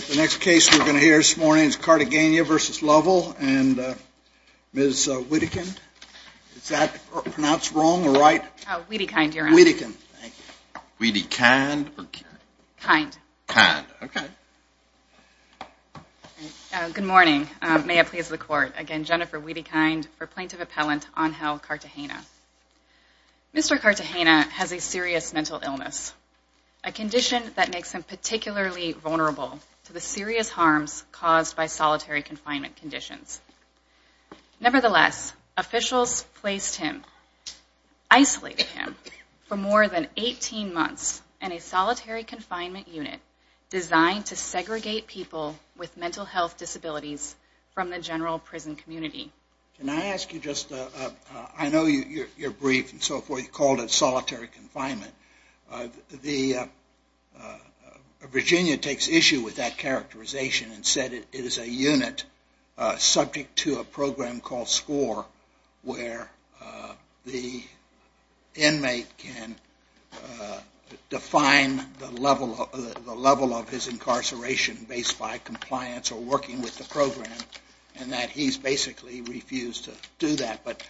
The next case we're going to hear this morning is Cartagena v. Lovell. And Ms. Whittekind, is that pronounced wrong or right? Whittekind, Your Honor. Whittekind. Thank you. Whittekind. Kind. Kind. Okay. Good morning. May it please the Court. Again, Jennifer Whittekind for Plaintiff Appellant Angel Cartagena. Mr. Cartagena has a serious mental illness, a condition that makes him particularly vulnerable to the serious harms caused by solitary confinement conditions. Nevertheless, officials placed him, isolated him, for more than 18 months in a solitary confinement unit designed to segregate people with mental health disabilities from the general prison community. Can I ask you just, I know you're brief and so forth, you called it solitary confinement. Virginia takes issue with that characterization and said it is a unit subject to a program called SCORE where the inmate can define the level of his incarceration based by compliance or working with the program and that he's basically refused to do that. But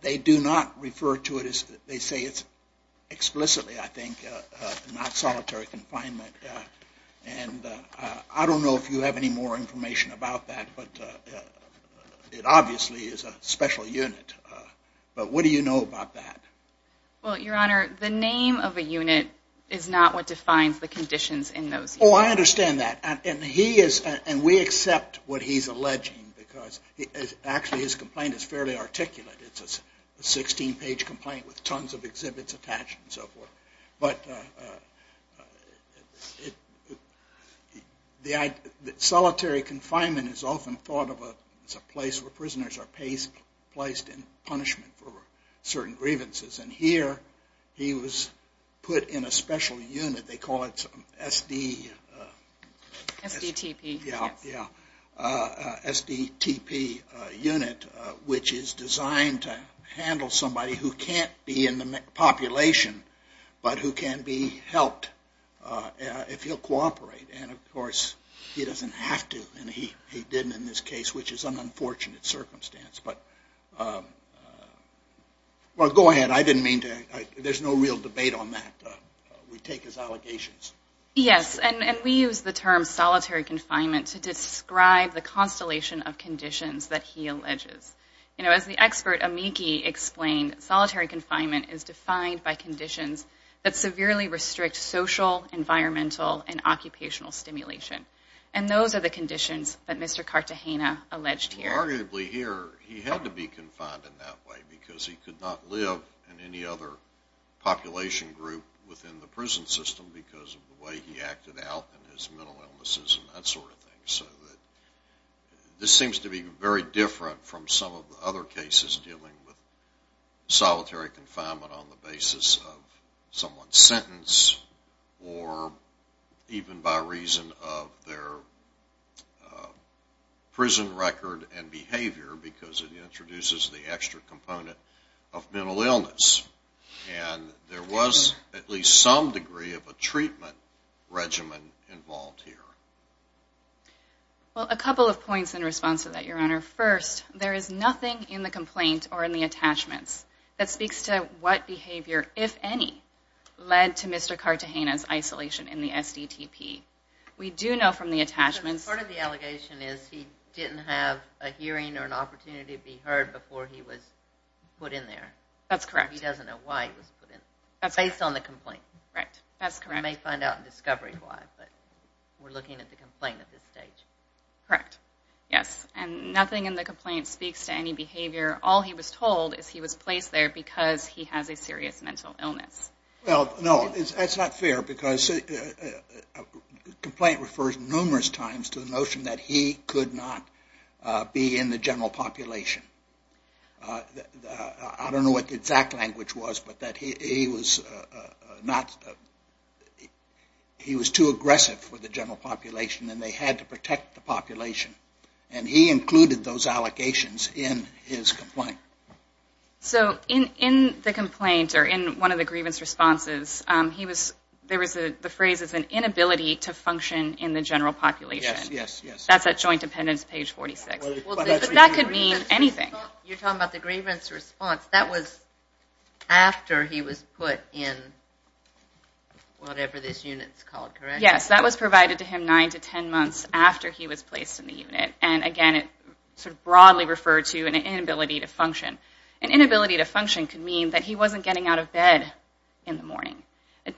they do not refer to it as, they say it's explicitly, I think, not solitary confinement. And I don't know if you have any more information about that, but it obviously is a special unit. But what do you know about that? Well, Your Honor, the name of a unit is not what defines the conditions in those units. Oh, I understand that. And we accept what he's alleging because actually his complaint is fairly articulate. It's a 16-page complaint with tons of exhibits attached and so forth. But solitary confinement is often thought of as a place where prisoners are placed in punishment for certain grievances. And here he was put in a special unit, they call it SDTP unit, which is designed to handle somebody who can't be in the population but who can be helped if he'll cooperate. And of course he doesn't have to and he didn't in this case, which is an unfortunate circumstance. But, well, go ahead. I didn't mean to, there's no real debate on that. We take his allegations. Yes, and we use the term solitary confinement to describe the constellation of conditions that he alleges. You know, as the expert, Amiki, explained, solitary confinement is defined by conditions that severely restrict social, environmental, and occupational stimulation. And those are the conditions that Mr. Cartagena alleged here. Arguably here, he had to be confined in that way because he could not live in any other population group within the prison system because of the way he acted out and his mental illnesses and that sort of thing. So this seems to be very different from some of the other cases dealing with solitary confinement on the basis of someone's sentence or even by reason of their prison record and behavior because it introduces the extra component of mental illness. And there was at least some degree of a treatment regimen involved here. Well, a couple of points in response to that, Your Honor. First, there is nothing in the complaint or in the attachments that speaks to what behavior, if any, led to Mr. Cartagena's isolation in the SDTP. We do know from the attachments... ...a hearing or an opportunity to be heard before he was put in there. That's correct. He doesn't know why he was put in. That's correct. Based on the complaint. Right. That's correct. We may find out in discovery why, but we're looking at the complaint at this stage. Correct. Yes. And nothing in the complaint speaks to any behavior. All he was told is he was placed there because he has a serious mental illness. Well, no, that's not fair because a complaint refers numerous times to the notion that he could not be in the general population. I don't know what the exact language was, but that he was not...he was too aggressive for the general population and they had to protect the population. And he included those allocations in his complaint. So in the complaint or in one of the grievance responses, there was the phrase, an inability to function in the general population. Yes, yes, yes. That's at Joint Dependents, page 46. But that could mean anything. You're talking about the grievance response. That was after he was put in whatever this unit's called, correct? Yes, that was provided to him nine to ten months after he was placed in the unit. And, again, it sort of broadly referred to an inability to function. It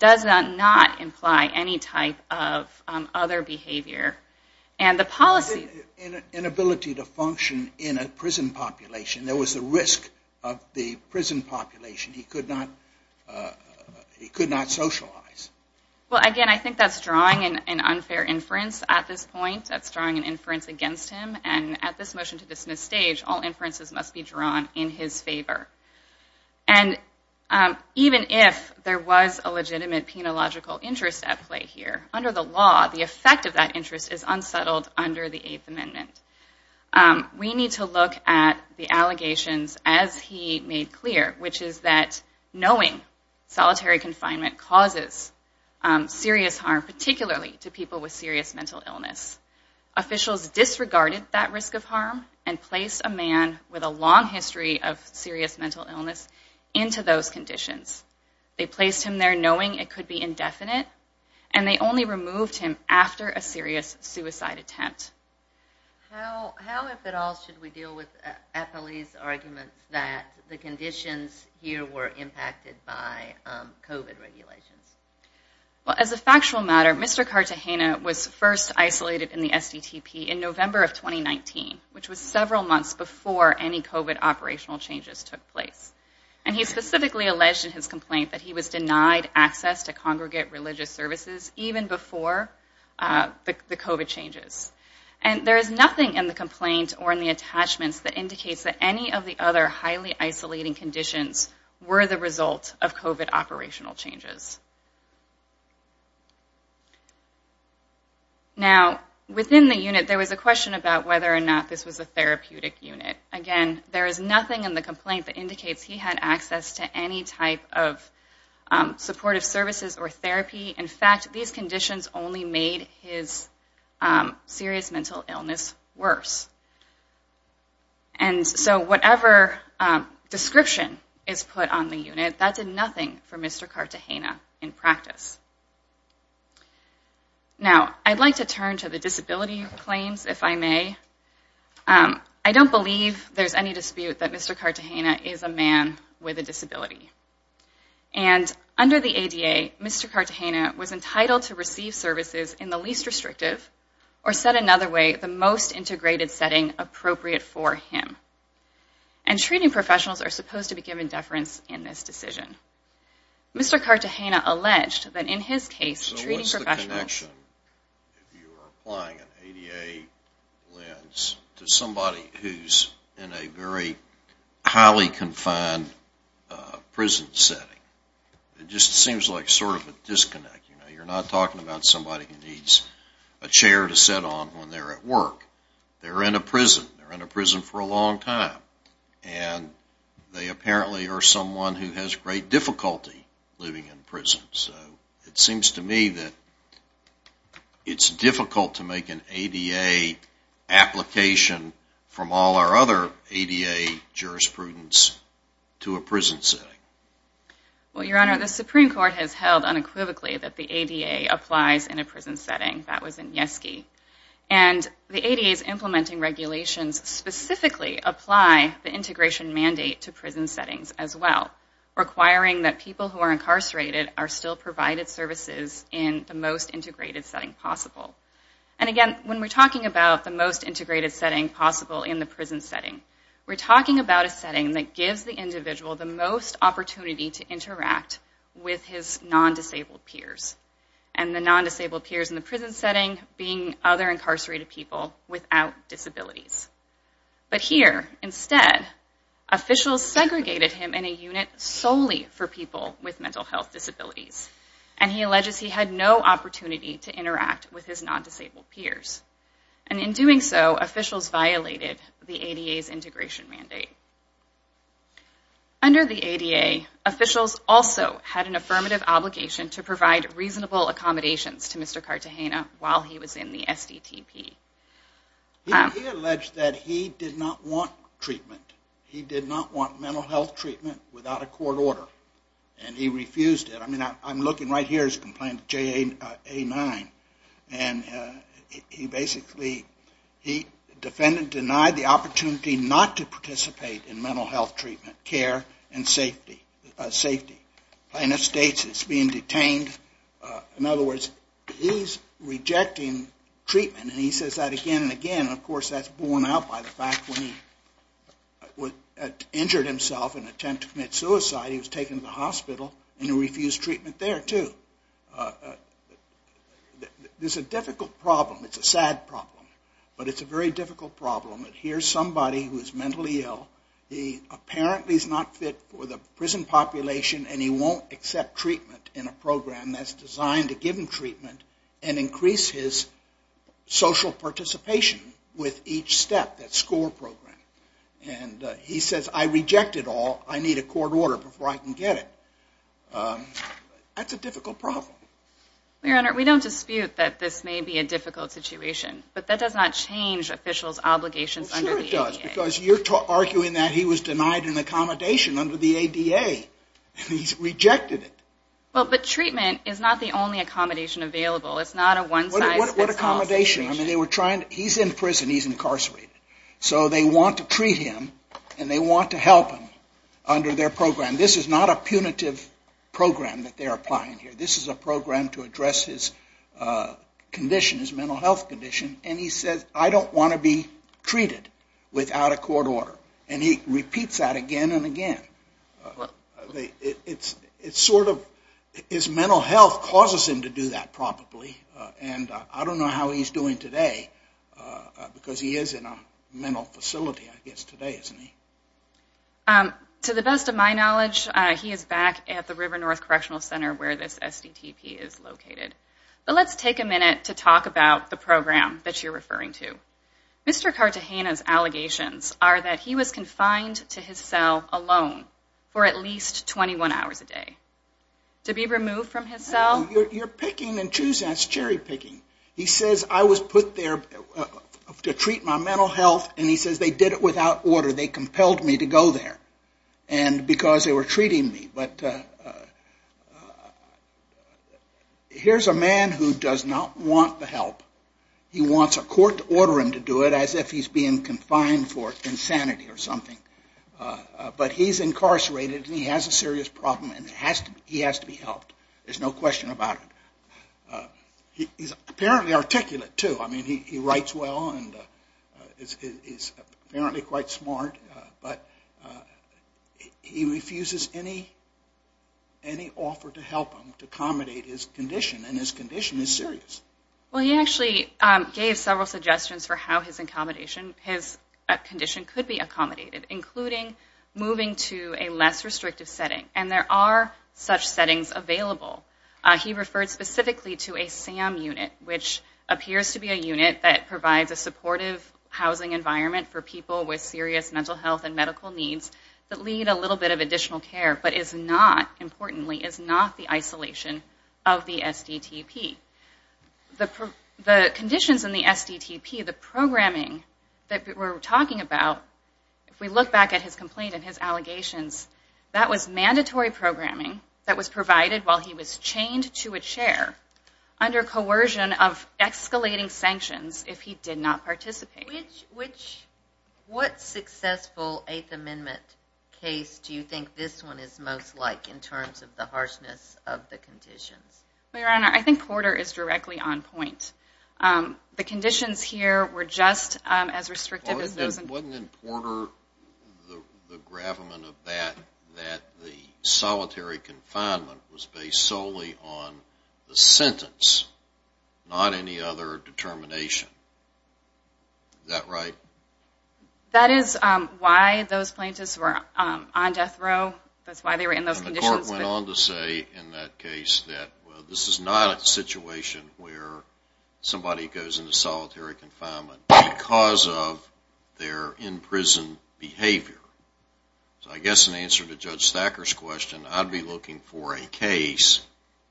does not imply any type of other behavior. And the policy... Inability to function in a prison population. There was a risk of the prison population. He could not socialize. Well, again, I think that's drawing an unfair inference at this point. That's drawing an inference against him. And at this motion to dismiss stage, all inferences must be drawn in his favor. And even if there was a legitimate penological interest at play here, under the law, the effect of that interest is unsettled under the Eighth Amendment. We need to look at the allegations as he made clear, which is that knowing solitary confinement causes serious harm, particularly to people with serious mental illness. Officials disregarded that risk of harm and placed a man with a long history of serious mental illness into those conditions. They placed him there knowing it could be indefinite, and they only removed him after a serious suicide attempt. How, if at all, should we deal with Apolli's argument that the conditions here were impacted by COVID regulations? Well, as a factual matter, Mr. Cartagena was first isolated in the SDTP in November of 2019, which was several months before any COVID operational changes took place. And he specifically alleged in his complaint that he was denied access to congregate religious services even before the COVID changes. And there is nothing in the complaint or in the attachments that indicates that any of the other highly isolating conditions were the result of COVID operational changes. Now, within the unit, there was a question about whether or not this was a therapeutic unit. Again, there is nothing in the complaint that indicates he had access to any type of supportive services or therapy. In fact, these conditions only made his serious mental illness worse. And so whatever description is put on the unit, that did nothing for Mr. Cartagena. Now, I'd like to turn to the disability claims, if I may. I don't believe there's any dispute that Mr. Cartagena is a man with a disability. And under the ADA, Mr. Cartagena was entitled to receive services in the least restrictive or, said another way, the most integrated setting appropriate for him. And treating professionals are supposed to be given deference in this decision. Mr. Cartagena alleged that in his case, treating professionals... So what's the connection, if you were applying an ADA lens, to somebody who's in a very highly confined prison setting? It just seems like sort of a disconnect. You know, you're not talking about somebody who needs a chair to sit on when they're at work. They're in a prison. They're in a prison for a long time. And they apparently are someone who has great difficulty living in prison. So it seems to me that it's difficult to make an ADA application from all our other ADA jurisprudence to a prison setting. Well, Your Honor, the Supreme Court has held unequivocally that the ADA applies in a prison setting. That was in Yeski. And the ADA's implementing regulations specifically apply the integration mandate to prison settings as well, requiring that people who are incarcerated are still provided services in the most integrated setting possible. And again, when we're talking about the most integrated setting possible in the prison setting, we're talking about a setting that gives the individual the most opportunity to interact with his non-disabled peers. And the non-disabled peers in the prison setting being other incarcerated people without disabilities. But here, instead, officials segregated him in a unit solely for people with mental health disabilities. And he alleges he had no opportunity to interact with his non-disabled peers. And in doing so, officials violated the ADA's integration mandate. Under the ADA, officials also had an affirmative obligation to provide reasonable accommodations to Mr. Cartagena while he was in the SDTP. He alleged that he did not want treatment. He did not want mental health treatment without a court order. And he refused it. I mean, I'm looking right here at his complaint, JA-9. And he basically, the defendant denied the opportunity not to participate in mental health treatment care and safety. The plaintiff states he's being detained. In other words, he's rejecting treatment. And he says that again and again. Of course, that's borne out by the fact when he injured himself in an attempt to commit suicide, he was taken to the hospital and he refused treatment there, too. This is a difficult problem. It's a sad problem. But it's a very difficult problem. Here's somebody who is mentally ill. He apparently is not fit for the prison population and he won't accept treatment in a program that's designed to give him treatment and increase his social participation with each step, that SCORE program. And he says, I reject it all. I need a court order before I can get it. That's a difficult problem. Your Honor, we don't dispute that this may be a difficult situation. But that does not change officials' obligations under the ADA. It does because you're arguing that he was denied an accommodation under the ADA and he's rejected it. But treatment is not the only accommodation available. It's not a one-size-fits-all situation. What accommodation? He's in prison. He's incarcerated. So they want to treat him and they want to help him under their program. This is not a punitive program that they're applying here. This is a program to address his condition, his mental health condition. And he says, I don't want to be treated without a court order. And he repeats that again and again. It's sort of his mental health causes him to do that probably. And I don't know how he's doing today because he is in a mental facility, I guess, today, isn't he? To the best of my knowledge, he is back at the River North Correctional Center where this SDTP is located. But let's take a minute to talk about the program that you're referring to. Mr. Cartagena's allegations are that he was confined to his cell alone for at least 21 hours a day. To be removed from his cell? You're picking and choosing. That's cherry picking. He says, I was put there to treat my mental health, and he says they did it without order. They compelled me to go there because they were treating me. But here's a man who does not want the help. He wants a court to order him to do it as if he's being confined for insanity or something. But he's incarcerated, and he has a serious problem, and he has to be helped. There's no question about it. He's apparently articulate, too. I mean, he writes well and is apparently quite smart. But he refuses any offer to help him to accommodate his condition, and his condition is serious. Well, he actually gave several suggestions for how his condition could be accommodated, including moving to a less restrictive setting, and there are such settings available. He referred specifically to a SAM unit, which appears to be a unit that provides a supportive housing environment for people with serious mental health and medical needs that lead a little bit of additional care, but is not, importantly, is not the isolation of the SDTP. The conditions in the SDTP, the programming that we're talking about, if we look back at his complaint and his allegations, that was mandatory programming that was provided while he was chained to a chair under coercion of escalating sanctions if he did not participate. What successful Eighth Amendment case do you think this one is most like in terms of the harshness of the conditions? Well, Your Honor, I think Porter is directly on point. The conditions here were just as restrictive as those in- Wasn't it in Porter, the gravamen of that, that the solitary confinement was based solely on the sentence, not any other determination. Is that right? That is why those plaintiffs were on death row. That's why they were in those conditions. And the court went on to say in that case that this is not a situation where somebody goes into solitary confinement because of their in-prison behavior. So I guess in answer to Judge Thacker's question, I'd be looking for a case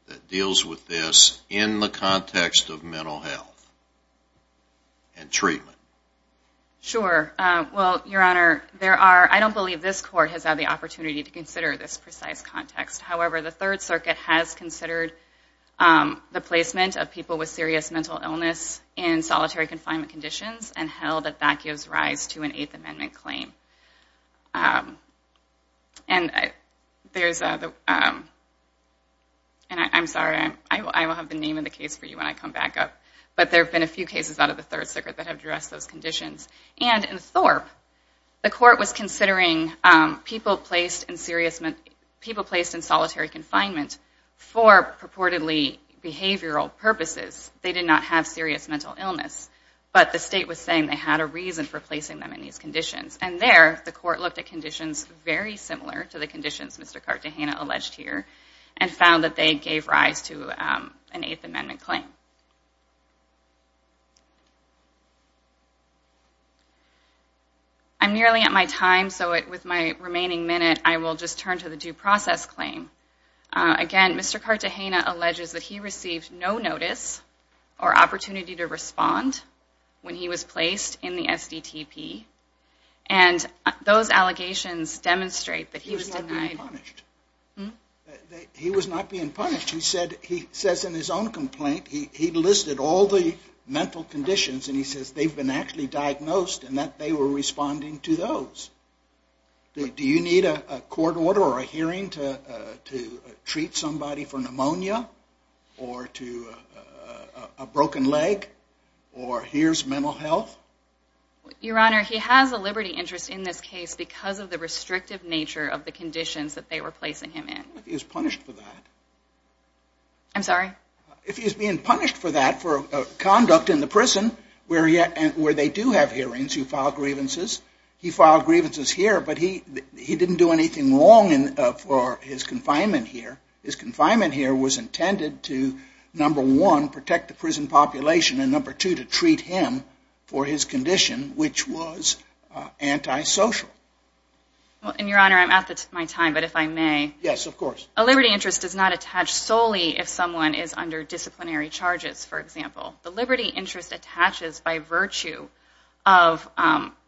that deals with this in the context of mental health and treatment. Sure. Well, Your Honor, I don't believe this court has had the opportunity to consider this precise context. However, the Third Circuit has considered the placement of people with serious mental illness in solitary confinement conditions and held that that gives rise to an Eighth Amendment claim. And I'm sorry, I will have the name of the case for you when I come back up, but there have been a few cases out of the Third Circuit that have addressed those conditions. And in Thorpe, the court was considering people placed in solitary confinement for purportedly behavioral purposes. They did not have serious mental illness, but the state was saying they had a reason for placing them in these conditions. And there, the court looked at conditions very similar to the conditions Mr. Cartagena alleged here and found that they gave rise to an Eighth Amendment claim. I'm nearly at my time, so with my remaining minute, I will just turn to the due process claim. Again, Mr. Cartagena alleges that he received no notice or opportunity to respond when he was placed in the SDTP. And those allegations demonstrate that he was denied. He was not being punished. He was not being punished. He says in his own complaint, he listed all the mental conditions, and he says they've been actually diagnosed and that they were responding to those. Do you need a court order or a hearing to treat somebody for pneumonia or to a broken leg or here's mental health? Your Honor, he has a liberty interest in this case because of the restrictive nature of the conditions that they were placing him in. What if he was punished for that? I'm sorry? If he's being punished for that, for conduct in the prison, where they do have hearings, you file grievances. He filed grievances here, but he didn't do anything wrong for his confinement here. His confinement here was intended to, number one, protect the prison population and, number two, to treat him for his condition, which was antisocial. Your Honor, I'm at my time, but if I may. Yes, of course. A liberty interest is not attached solely if someone is under disciplinary charges, for example. The liberty interest attaches by virtue of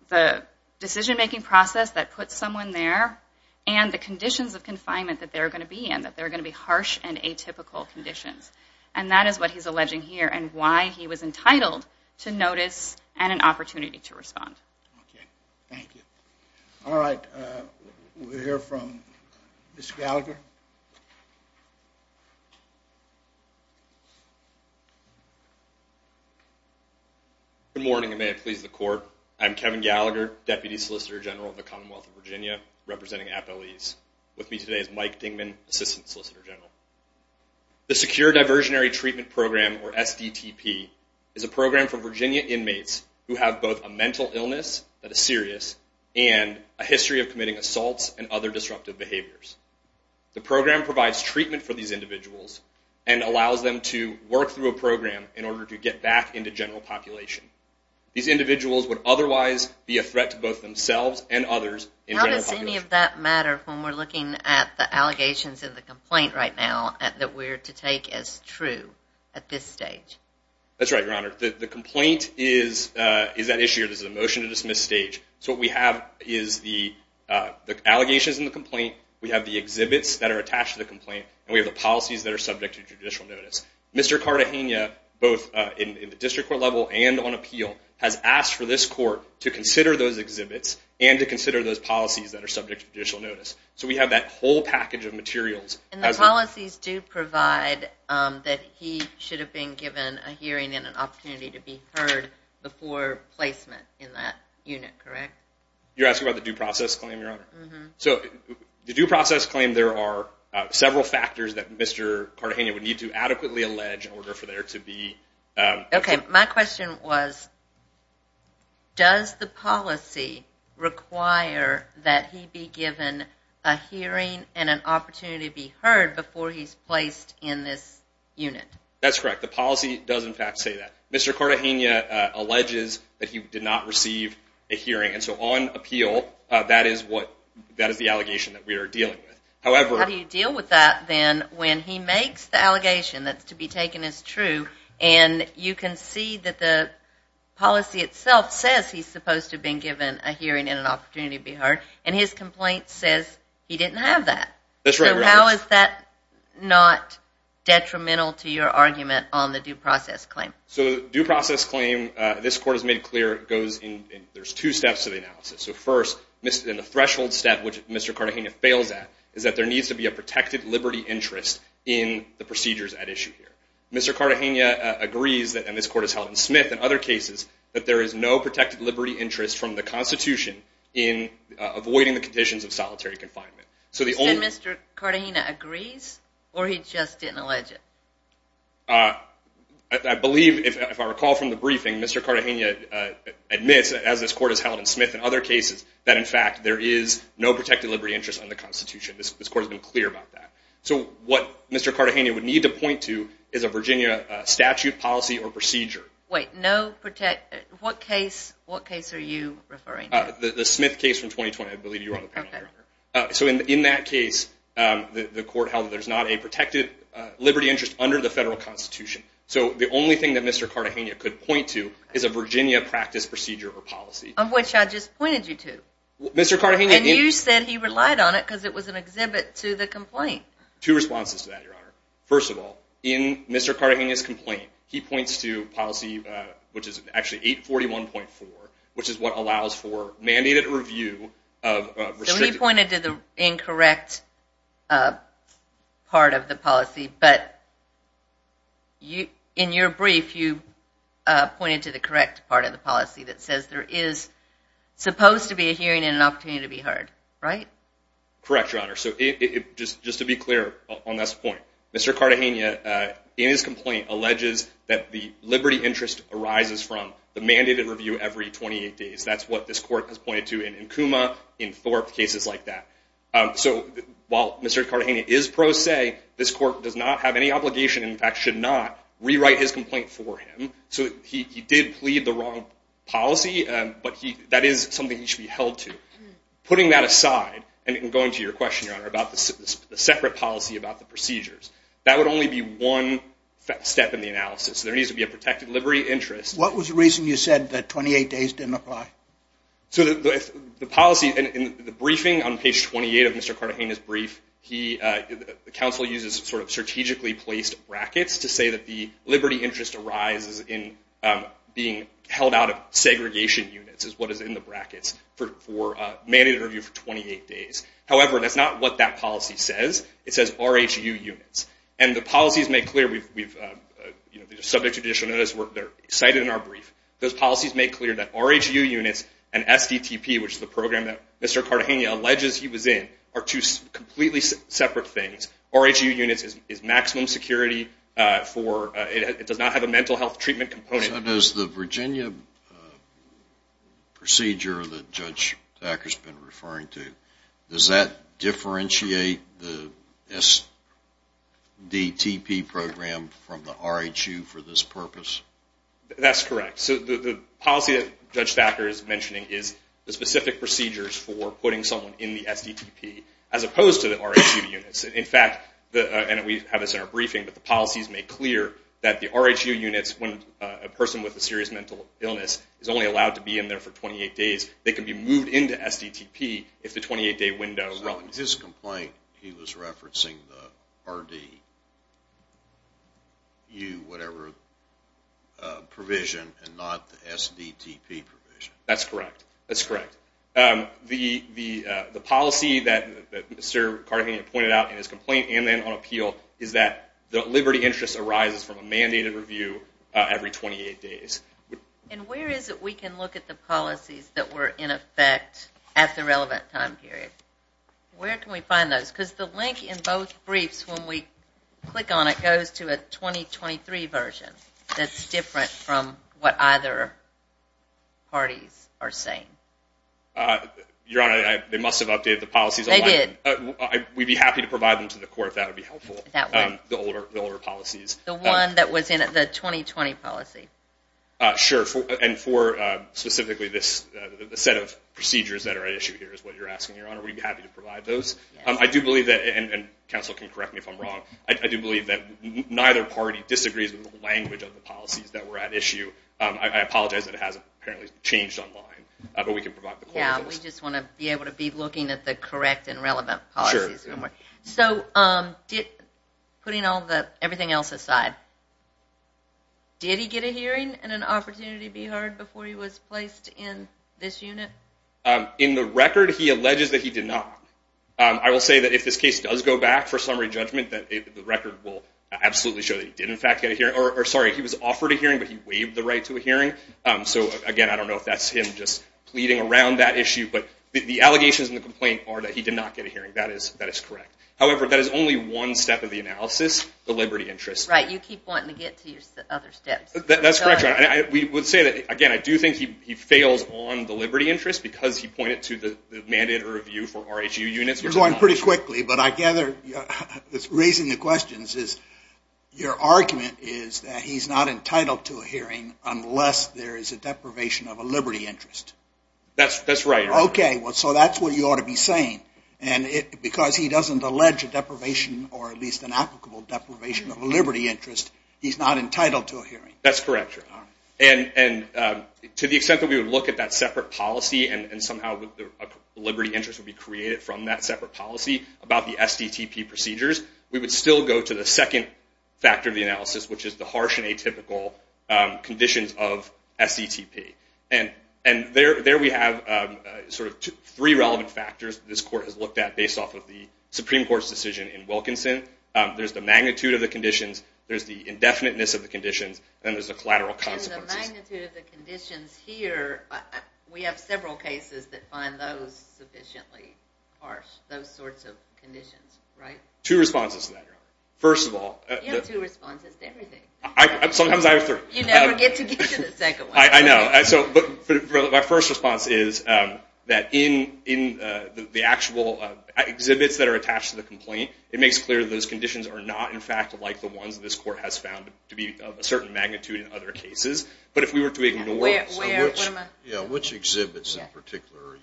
the decision-making process that puts someone there and the conditions of confinement that they're going to be in, that they're going to be harsh and atypical conditions, and that is what he's alleging here and why he was entitled to notice and an opportunity to respond. Okay, thank you. All right, we'll hear from Ms. Gallagher. Good morning, and may it please the Court. I'm Kevin Gallagher, Deputy Solicitor General of the Commonwealth of Virginia, representing appellees. With me today is Mike Dingman, Assistant Solicitor General. The Secure Diversionary Treatment Program, or SDTP, is a program for Virginia inmates who have both a mental illness that is serious and a history of committing assaults and other disruptive behaviors. The program provides treatment for these individuals and allows them to work through a program in order to get back into general population. These individuals would otherwise be a threat to both themselves and others in general population. How does any of that matter when we're looking at the allegations in the complaint right now that we're to take as true at this stage? That's right, Your Honor. The complaint is that issue or this is a motion to dismiss stage. So what we have is the allegations in the complaint, we have the exhibits that are attached to the complaint, and we have the policies that are subject to judicial notice. Mr. Cartagena, both in the district court level and on appeal, has asked for this court to consider those exhibits and to consider those policies that are subject to judicial notice. So we have that whole package of materials. And the policies do provide that he should have been given a hearing and an opportunity to be heard before placement in that unit, correct? You're asking about the due process claim, Your Honor? Mm-hmm. So the due process claim, there are several factors that Mr. Cartagena would need to adequately allege in order for there to be... Okay. My question was, does the policy require that he be given a hearing and an opportunity to be heard before he's placed in this unit? That's correct. The policy does, in fact, say that. Mr. Cartagena alleges that he did not receive a hearing. And so on appeal, that is the allegation that we are dealing with. How do you deal with that then when he makes the allegation that's to be taken as true and you can see that the policy itself says he's supposed to have been given a hearing and an opportunity to be heard, and his complaint says he didn't have that? That's right, Your Honor. So how is that not detrimental to your argument on the due process claim? So the due process claim, this court has made clear, there's two steps to the analysis. So first, in the threshold step, which Mr. Cartagena fails at, is that there needs to be a protected liberty interest in the procedures at issue here. Mr. Cartagena agrees, and this court has held in Smith and other cases, that there is no protected liberty interest from the Constitution in avoiding the conditions of solitary confinement. So the only... And Mr. Cartagena agrees, or he just didn't allege it? I believe, if I recall from the briefing, Mr. Cartagena admits, as this court has held in Smith and other cases, that in fact there is no protected liberty interest in the Constitution. This court has been clear about that. So what Mr. Cartagena would need to point to is a Virginia statute, policy, or procedure. Wait, no protected... What case are you referring to? The Smith case from 2020, I believe you were on the panel, Your Honor. Okay. So in that case, the court held that there's not a protected liberty interest under the federal Constitution. So the only thing that Mr. Cartagena could point to is a Virginia practice, procedure, or policy. Of which I just pointed you to. Mr. Cartagena... And you said he relied on it because it was an exhibit to the complaint. Two responses to that, Your Honor. First of all, in Mr. Cartagena's complaint, he points to policy, which is actually 841.4, which is what allows for mandated review of restricted... So he pointed to the incorrect part of the policy, but in your brief, you pointed to the correct part of the policy that says there is supposed to be a hearing and an opportunity to be heard, right? Correct, Your Honor. So just to be clear on this point, Mr. Cartagena, in his complaint, alleges that the liberty interest arises from the mandated review every 28 days. That's what this court has pointed to in Nkuma, in Thorpe, cases like that. So while Mr. Cartagena is pro se, this court does not have any obligation, in fact, should not rewrite his complaint for him. So he did plead the wrong policy, but that is something he should be held to. Putting that aside, and going to your question, Your Honor, about the separate policy about the procedures, that would only be one step in the analysis. There needs to be a protected liberty interest. What was the reason you said that 28 days didn't apply? So the policy in the briefing on page 28 of Mr. Cartagena's brief, the counsel uses sort of strategically placed brackets to say that the liberty interest arises in being held out of segregation units, is what is in the brackets, for a mandated review for 28 days. However, that's not what that policy says. It says RHU units. And the policies make clear, subject to judicial notice, they're cited in our brief. Those policies make clear that RHU units and SDTP, which is the program that Mr. Cartagena alleges he was in, are two completely separate things. RHU units is maximum security for, it does not have a mental health treatment component. So does the Virginia procedure that Judge Thacker's been referring to, does that differentiate the SDTP program from the RHU for this purpose? That's correct. So the policy that Judge Thacker is mentioning is the specific procedures for putting someone in the SDTP as opposed to the RHU units. In fact, and we have this in our briefing, but the policies make clear that the RHU units, when a person with a serious mental illness is only allowed to be in there for 28 days, they can be moved into SDTP if the 28-day window relevant. In his complaint, he was referencing the RDU, whatever provision, and not the SDTP provision. That's correct. That's correct. The policy that Mr. Cartagena pointed out in his complaint and then on appeal is that the liberty interest arises from a mandated review every 28 days. And where is it we can look at the policies that were in effect at the relevant time period? Where can we find those? Because the link in both briefs, when we click on it, goes to a 2023 version that's different from what either parties are saying. Your Honor, they must have updated the policies online. They did. We'd be happy to provide them to the court if that would be helpful, the older policies. The one that was in the 2020 policy. Sure. And for specifically the set of procedures that are at issue here is what you're asking, Your Honor. We'd be happy to provide those. I do believe that, and counsel can correct me if I'm wrong, I do believe that neither party disagrees with the language of the policies that were at issue. I apologize that it hasn't apparently changed online, but we can provide the court with those. Yeah, we just want to be able to be looking at the correct and relevant policies. So putting everything else aside, did he get a hearing and an opportunity to be heard before he was placed in this unit? In the record, he alleges that he did not. I will say that if this case does go back for summary judgment, that the record will absolutely show that he did, in fact, get a hearing. Or, sorry, he was offered a hearing, but he waived the right to a hearing. So, again, I don't know if that's him just pleading around that issue, but the allegations and the complaint are that he did not get a hearing. That is correct. However, that is only one step of the analysis, the liberty interest. Right, you keep wanting to get to your other steps. That's correct. We would say that, again, I do think he fails on the liberty interest because he pointed to the mandate or review for RHU units. You're going pretty quickly, but I gather that's raising the questions is your argument is that he's not entitled to a hearing unless there is a deprivation of a liberty interest. That's right. Okay, so that's what you ought to be saying. And because he doesn't allege a deprivation or at least an applicable deprivation of a liberty interest, he's not entitled to a hearing. That's correct. And to the extent that we would look at that separate policy and somehow a liberty interest would be created from that separate policy about the SDTP procedures, we would still go to the second factor of the analysis, which is the harsh and atypical conditions of SDTP. And there we have sort of three relevant factors that this court has looked at based off of the Supreme Court's decision in Wilkinson. There's the magnitude of the conditions, there's the indefiniteness of the conditions, and there's the collateral consequences. And the magnitude of the conditions here, we have several cases that find those sufficiently harsh, those sorts of conditions, right? Two responses to that, Your Honor. You have two responses to everything. Sometimes I have three. You never get to get to the second one. I know. My first response is that in the actual exhibits that are attached to the complaint, it makes clear those conditions are not, in fact, like the ones that this court has found to be of a certain magnitude in other cases. But if we were to ignore them... Yeah, which exhibits in particular?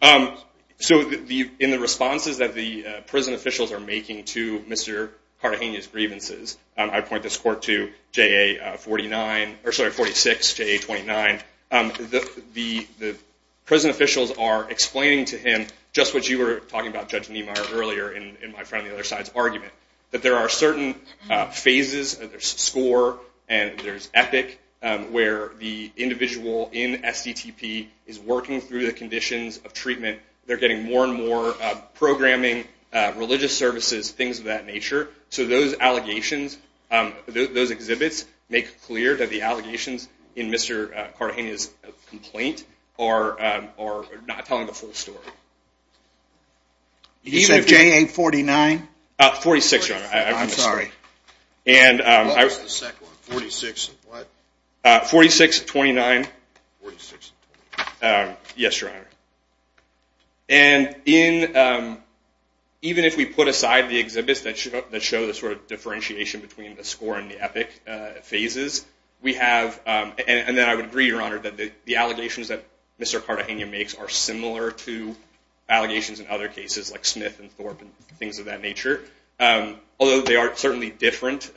So in the responses that the prison officials are making to Mr. Cartagena's grievances, I point this court to JA46, JA29. The prison officials are explaining to him just what you were talking about, Judge Niemeyer, earlier in my friend on the other side's argument, that there are certain phases, there's SCORE and there's EPIC, where the individual in STTP is working through the conditions of treatment. They're getting more and more programming, religious services, things of that nature. So those allegations, those exhibits, make clear that the allegations in Mr. Cartagena's complaint are not telling the full story. You said JA49? 46, Your Honor. I'm sorry. What was the second one? 46 what? 4629. 4629. Yes, Your Honor. And even if we put aside the exhibits that show the sort of differentiation between the SCORE and the EPIC phases, and then I would agree, Your Honor, that the allegations that Mr. Cartagena makes are similar to allegations in other cases like Smith and Thorpe and things of that nature, although they are certainly different.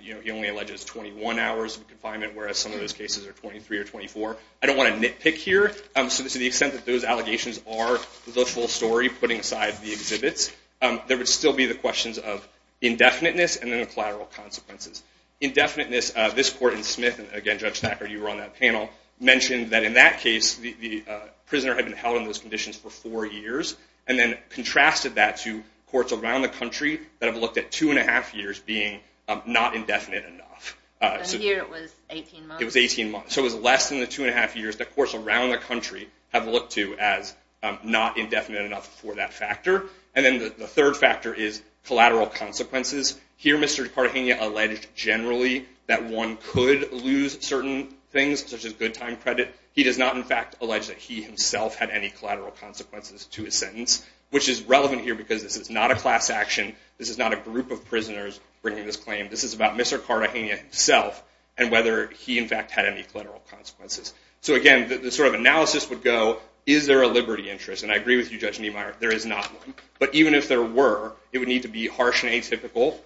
He only alleges 21 hours of confinement, whereas some of those cases are 23 or 24. I don't want to nitpick here. So to the extent that those allegations are the full story put inside the exhibits, there would still be the questions of indefiniteness and then the collateral consequences. Indefiniteness, this court in Smith, and again, Judge Thacker, you were on that panel, mentioned that in that case the prisoner had been held in those conditions for four years and then contrasted that to courts around the country that have looked at two and a half years being not indefinite enough. And here it was 18 months. It was 18 months. So it was less than the two and a half years that courts around the country have looked to as not indefinite enough for that factor. And then the third factor is collateral consequences. Here Mr. Cartagena alleged generally that one could lose certain things, such as good time credit. He does not, in fact, allege that he himself had any collateral consequences to his sentence, which is relevant here because this is not a class action. This is not a group of prisoners bringing this claim. This is about Mr. Cartagena himself and whether he, in fact, had any collateral consequences. So again, the sort of analysis would go, is there a liberty interest? And I agree with you, Judge Niemeyer, there is not one. But even if there were, it would need to be harsh and atypical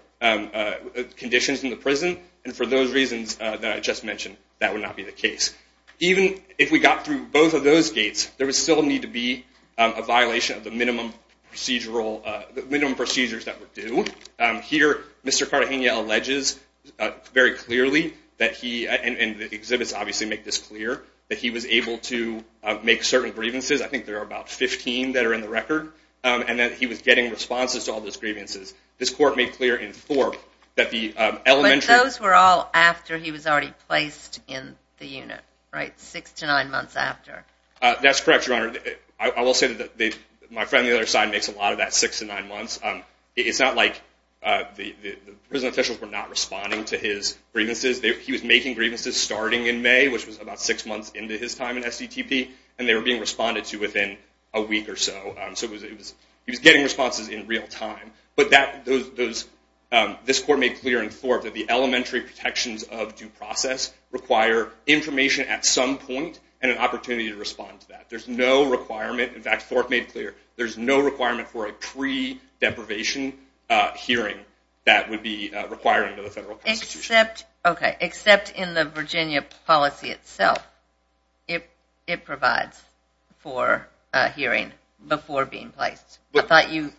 conditions in the prison. And for those reasons that I just mentioned, that would not be the case. Even if we got through both of those gates, there would still need to be a violation of the minimum procedures that were due. Here Mr. Cartagena alleges very clearly that he, and the exhibits obviously make this clear, that he was able to make certain grievances. I think there are about 15 that are in the record. And that he was getting responses to all those grievances. This court made clear in Thorpe that the elementary- But those were all after he was already placed in the unit, right? Six to nine months after. That's correct, Your Honor. I will say that my friend on the other side makes a lot of that six to nine months. It's not like the prison officials were not responding to his grievances. He was making grievances starting in May, which was about six months into his time in STTP. And they were being responded to within a week or so. So he was getting responses in real time. But this court made clear in Thorpe that the elementary protections of due process require information at some point and an opportunity to respond to that. There's no requirement. In fact, Thorpe made clear there's no requirement for a pre-deprivation hearing that would be required under the federal constitution. Except in the Virginia policy itself. It provides for a hearing before being placed. I thought you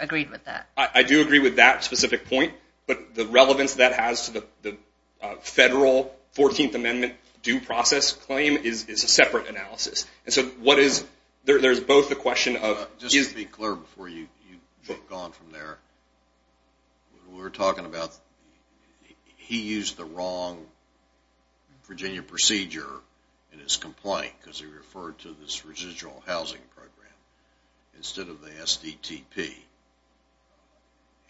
agreed with that. I do agree with that specific point. But the relevance that has to the federal 14th Amendment due process claim is a separate analysis. And so there's both a question of... Just to be clear before you go on from there. We were talking about he used the wrong Virginia procedure in his complaint because he referred to this residual housing program instead of the STTP.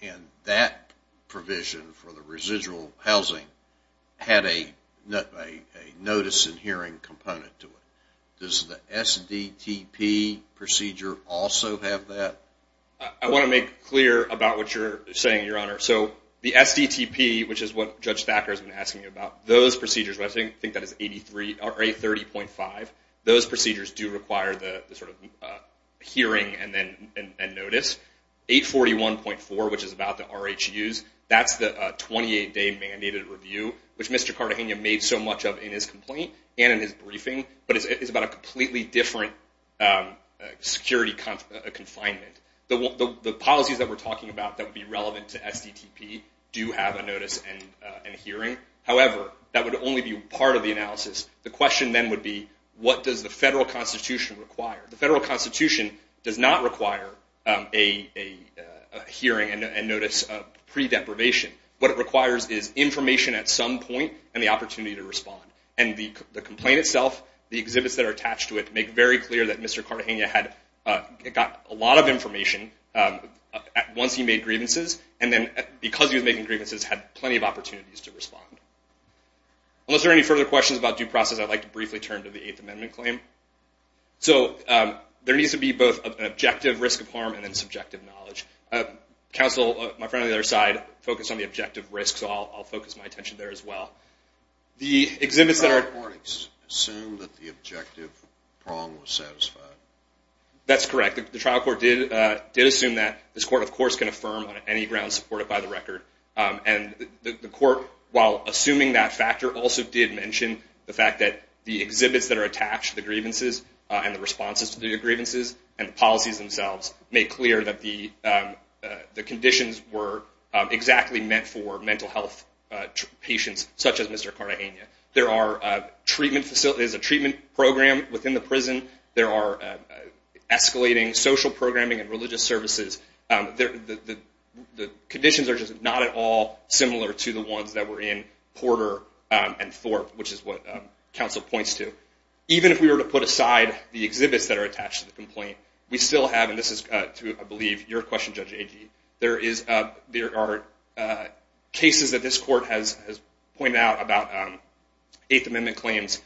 And that provision for the residual housing had a notice and hearing component to it. Does the STTP procedure also have that? I want to make clear about what you're saying, Your Honor. The STTP, which is what Judge Thacker has been asking about, those procedures, I think that is 830.5, those procedures do require the hearing and notice. 841.4, which is about the RHUs, that's the 28-day mandated review, which Mr. Cartagena made so much of in his complaint and in his briefing. But it's about a completely different security confinement. The policies that we're talking about that would be relevant to STTP do have a notice and hearing. However, that would only be part of the analysis. The question then would be, what does the federal Constitution require? The federal Constitution does not require a hearing and notice of pre-deprivation. And the complaint itself, the exhibits that are attached to it, make very clear that Mr. Cartagena got a lot of information once he made grievances, and then because he was making grievances, had plenty of opportunities to respond. Unless there are any further questions about due process, I'd like to briefly turn to the Eighth Amendment claim. So there needs to be both an objective risk of harm and then subjective knowledge. Counsel, my friend on the other side, focused on the objective risk, so I'll focus my attention there as well. The exhibits that are- The trial court assumed that the objective prong was satisfied. That's correct. The trial court did assume that. This court, of course, can affirm on any grounds supported by the record. And the court, while assuming that factor, also did mention the fact that the exhibits that are attached to the grievances and the responses to the grievances and the policies themselves made clear that the conditions were exactly meant for mental health patients, such as Mr. Cartagena. There is a treatment program within the prison. There are escalating social programming and religious services. The conditions are just not at all similar to the ones that were in Porter and Thorpe, which is what counsel points to. Even if we were to put aside the exhibits that are attached to the complaint, we still have, and this is to, I believe, your question, Judge Agee, there are cases that this court has pointed out about Eighth Amendment claims.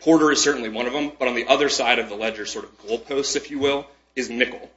Porter is certainly one of them. But on the other side of the ledger, sort of goalposts, if you will, is Nicol.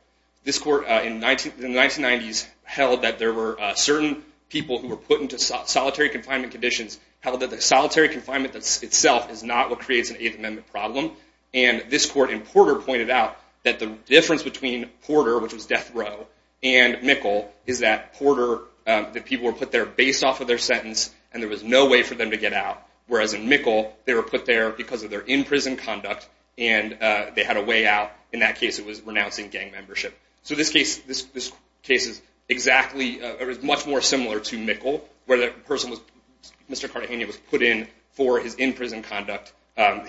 This court, in the 1990s, held that there were certain people who were put into solitary confinement conditions, held that the solitary confinement itself is not what creates an Eighth Amendment problem. And this court in Porter pointed out that the difference between Porter, which was death row, and Nicol is that Porter, that people were put there based off of their sentence and there was no way for them to get out. Whereas in Nicol, they were put there because of their in-prison conduct and they had a way out. In that case, it was renouncing gang membership. So this case is much more similar to Nicol, where Mr. Cartagena was put in for his in-prison conduct,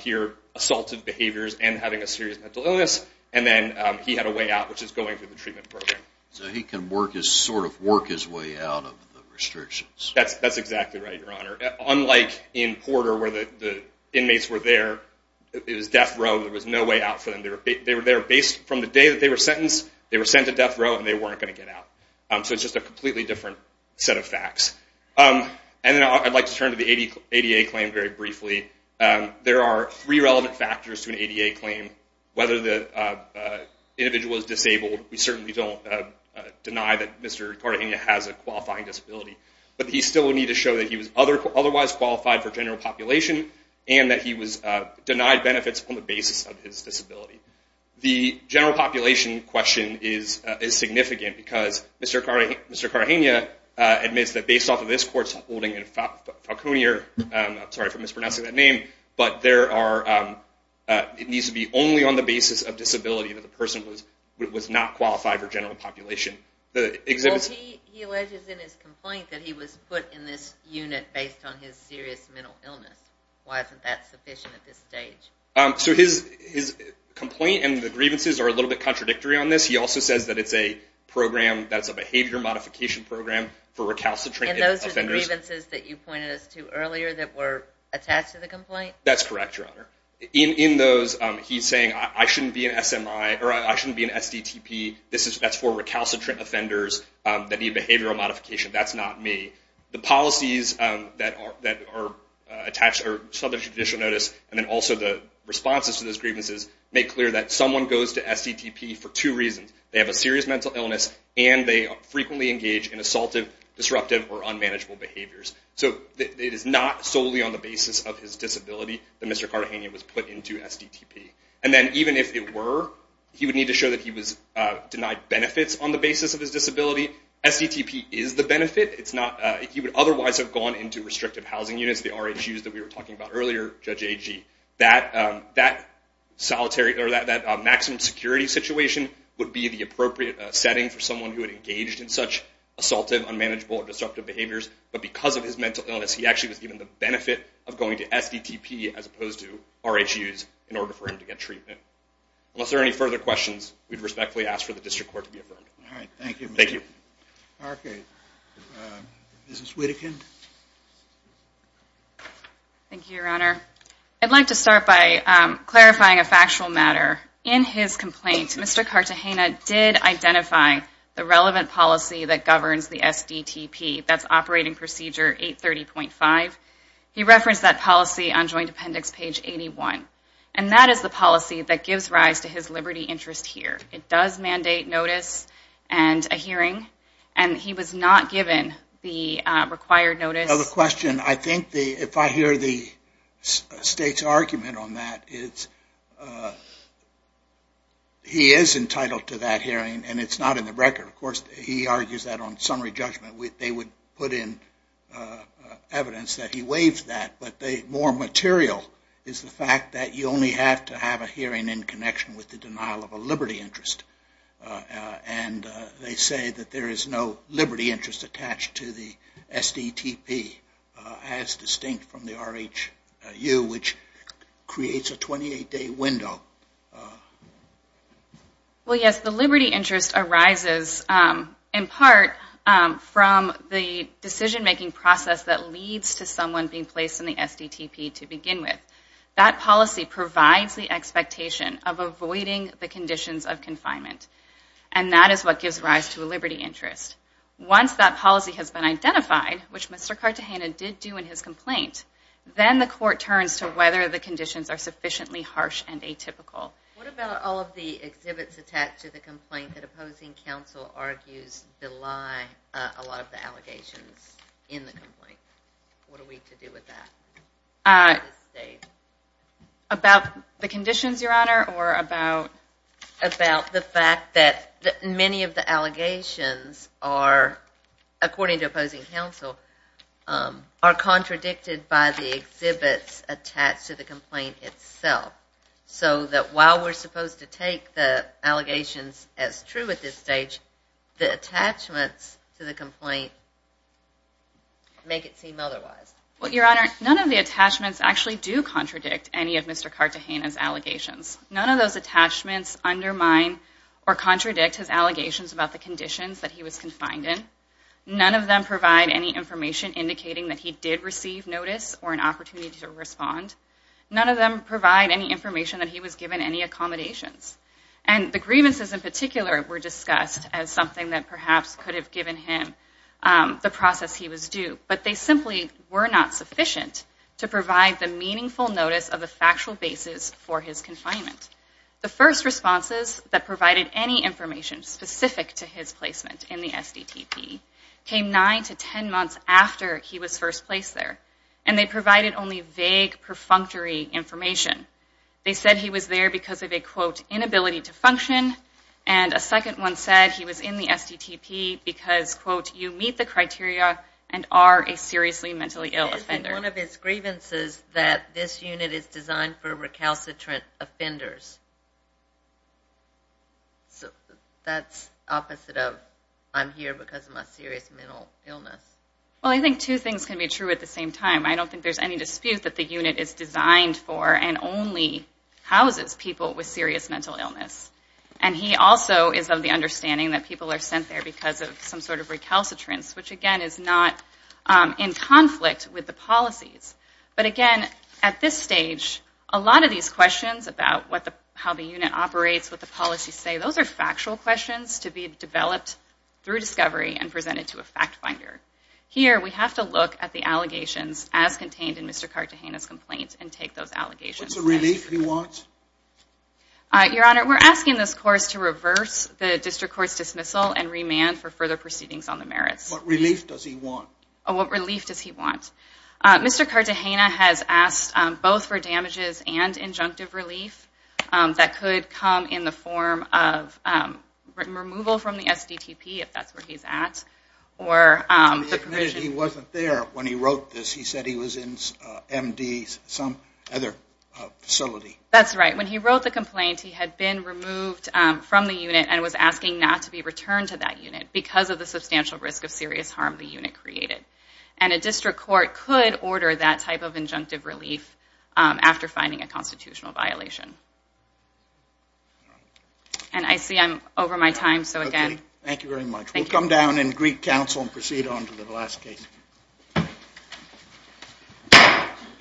here assaulted behaviors and having a serious mental illness, and then he had a way out, which is going through the treatment program. So he can sort of work his way out of the restrictions. That's exactly right, Your Honor. Unlike in Porter, where the inmates were there, it was death row, there was no way out for them. They were there based from the day that they were sentenced, they were sent to death row, and they weren't going to get out. So it's just a completely different set of facts. And then I'd like to turn to the ADA claim very briefly. There are three relevant factors to an ADA claim. Whether the individual is disabled, we certainly don't deny that Mr. Cartagena has a qualifying disability, but he still would need to show that he was otherwise qualified for general population and that he was denied benefits on the basis of his disability. The general population question is significant because Mr. Cartagena admits that based off of this court's holding in Falconeer, I'm sorry for mispronouncing that name, but it needs to be only on the basis of disability that the person was not qualified for general population. Well, he alleges in his complaint that he was put in this unit based on his serious mental illness. Why isn't that sufficient at this stage? So his complaint and the grievances are a little bit contradictory on this. He also says that it's a program that's a behavior modification program for recalcitrant offenders. And those are the grievances that you pointed us to earlier that were attached to the complaint? That's correct, Your Honor. In those, he's saying I shouldn't be an SMI, or I shouldn't be an SDTP. That's for recalcitrant offenders that need behavioral modification. That's not me. The policies that are attached are Southern Judicial Notice and then also the responses to those grievances make clear that someone goes to SDTP for two reasons. They have a serious mental illness, and they frequently engage in assaultive, disruptive, or unmanageable behaviors. So it is not solely on the basis of his disability that Mr. Cartagena was put into SDTP. And then even if it were, he would need to show that he was denied benefits on the basis of his disability. SDTP is the benefit. He would otherwise have gone into restrictive housing units, the RHUs that we were talking about earlier, Judge Agee. That maximum security situation would be the appropriate setting for someone who had engaged in such assaultive, unmanageable, or disruptive behaviors. But because of his mental illness, he actually was given the benefit of going to SDTP as opposed to RHUs in order for him to get treatment. Unless there are any further questions, we'd respectfully ask for the district court to be affirmed. All right. Thank you, Mr. Parkey. Mrs. Whitakin. Thank you, Your Honor. I'd like to start by clarifying a factual matter. In his complaint, Mr. Cartagena did identify the relevant policy that governs the SDTP. That's Operating Procedure 830.5. He referenced that policy on Joint Appendix page 81. And that is the policy that gives rise to his liberty interest here. It does mandate notice and a hearing, and he was not given the required notice. Another question. I think if I hear the State's argument on that, he is entitled to that hearing, and it's not in the record. Of course, he argues that on summary judgment, they would put in evidence that he waived that. But more material is the fact that you only have to have a hearing in connection with the denial of a liberty interest. And they say that there is no liberty interest attached to the SDTP, as distinct from the RHU, which creates a 28-day window. Well, yes. The liberty interest arises in part from the decision-making process that leads to someone being placed in the SDTP to begin with. That policy provides the expectation of avoiding the conditions of confinement, and that is what gives rise to a liberty interest. Once that policy has been identified, which Mr. Cartagena did do in his complaint, then the court turns to whether the conditions are sufficiently harsh and atypical. What about all of the exhibits attached to the complaint that opposing counsel argues belie a lot of the allegations in the complaint? What are we to do with that? About the conditions, Your Honor, or about the fact that many of the allegations are, according to opposing counsel, are contradicted by the exhibits attached to the complaint itself. So that while we're supposed to take the allegations as true at this stage, the attachments to the complaint make it seem otherwise. Well, Your Honor, any of Mr. Cartagena's allegations. None of those attachments undermine or contradict his allegations about the conditions that he was confined in. None of them provide any information indicating that he did receive notice or an opportunity to respond. None of them provide any information that he was given any accommodations. And the grievances in particular were discussed as something that perhaps could have given him the process he was due, but they simply were not sufficient to provide the meaningful notice of the factual basis for his confinement. The first responses that provided any information specific to his placement in the SDTP came nine to ten months after he was first placed there, and they provided only vague, perfunctory information. They said he was there because of a, quote, inability to function, and a second one said he was in the SDTP because, quote, you meet the criteria and are a seriously mentally ill offender. One of his grievances that this unit is designed for recalcitrant offenders. So that's opposite of I'm here because of my serious mental illness. Well, I think two things can be true at the same time. I don't think there's any dispute that the unit is designed for and only houses people with serious mental illness. And he also is of the understanding that people are sent there because of some sort of recalcitrance, which again is not in conflict with the policies. But again, at this stage, a lot of these questions about how the unit operates, what the policies say, those are factual questions to be developed through discovery and presented to a fact finder. Here we have to look at the allegations as contained in Mr. Cartagena's complaint and take those allegations. What's the relief you want? Your Honor, we're asking this course to reverse the district court's dismissal and remand for further proceedings on the merits. What relief does he want? What relief does he want? Mr. Cartagena has asked both for damages and injunctive relief that could come in the form of removal from the SDTP, if that's where he's at, or the provision. He admitted he wasn't there when he wrote this. He said he was in MD, some other facility. When he wrote the complaint, he had been removed from the unit and was asking not to be returned to that unit because of the substantial risk of serious harm the unit created. And a district court could order that type of injunctive relief after finding a constitutional violation. And I see I'm over my time, so again... Thank you very much. We'll come down in Greek Council and proceed on to the last case.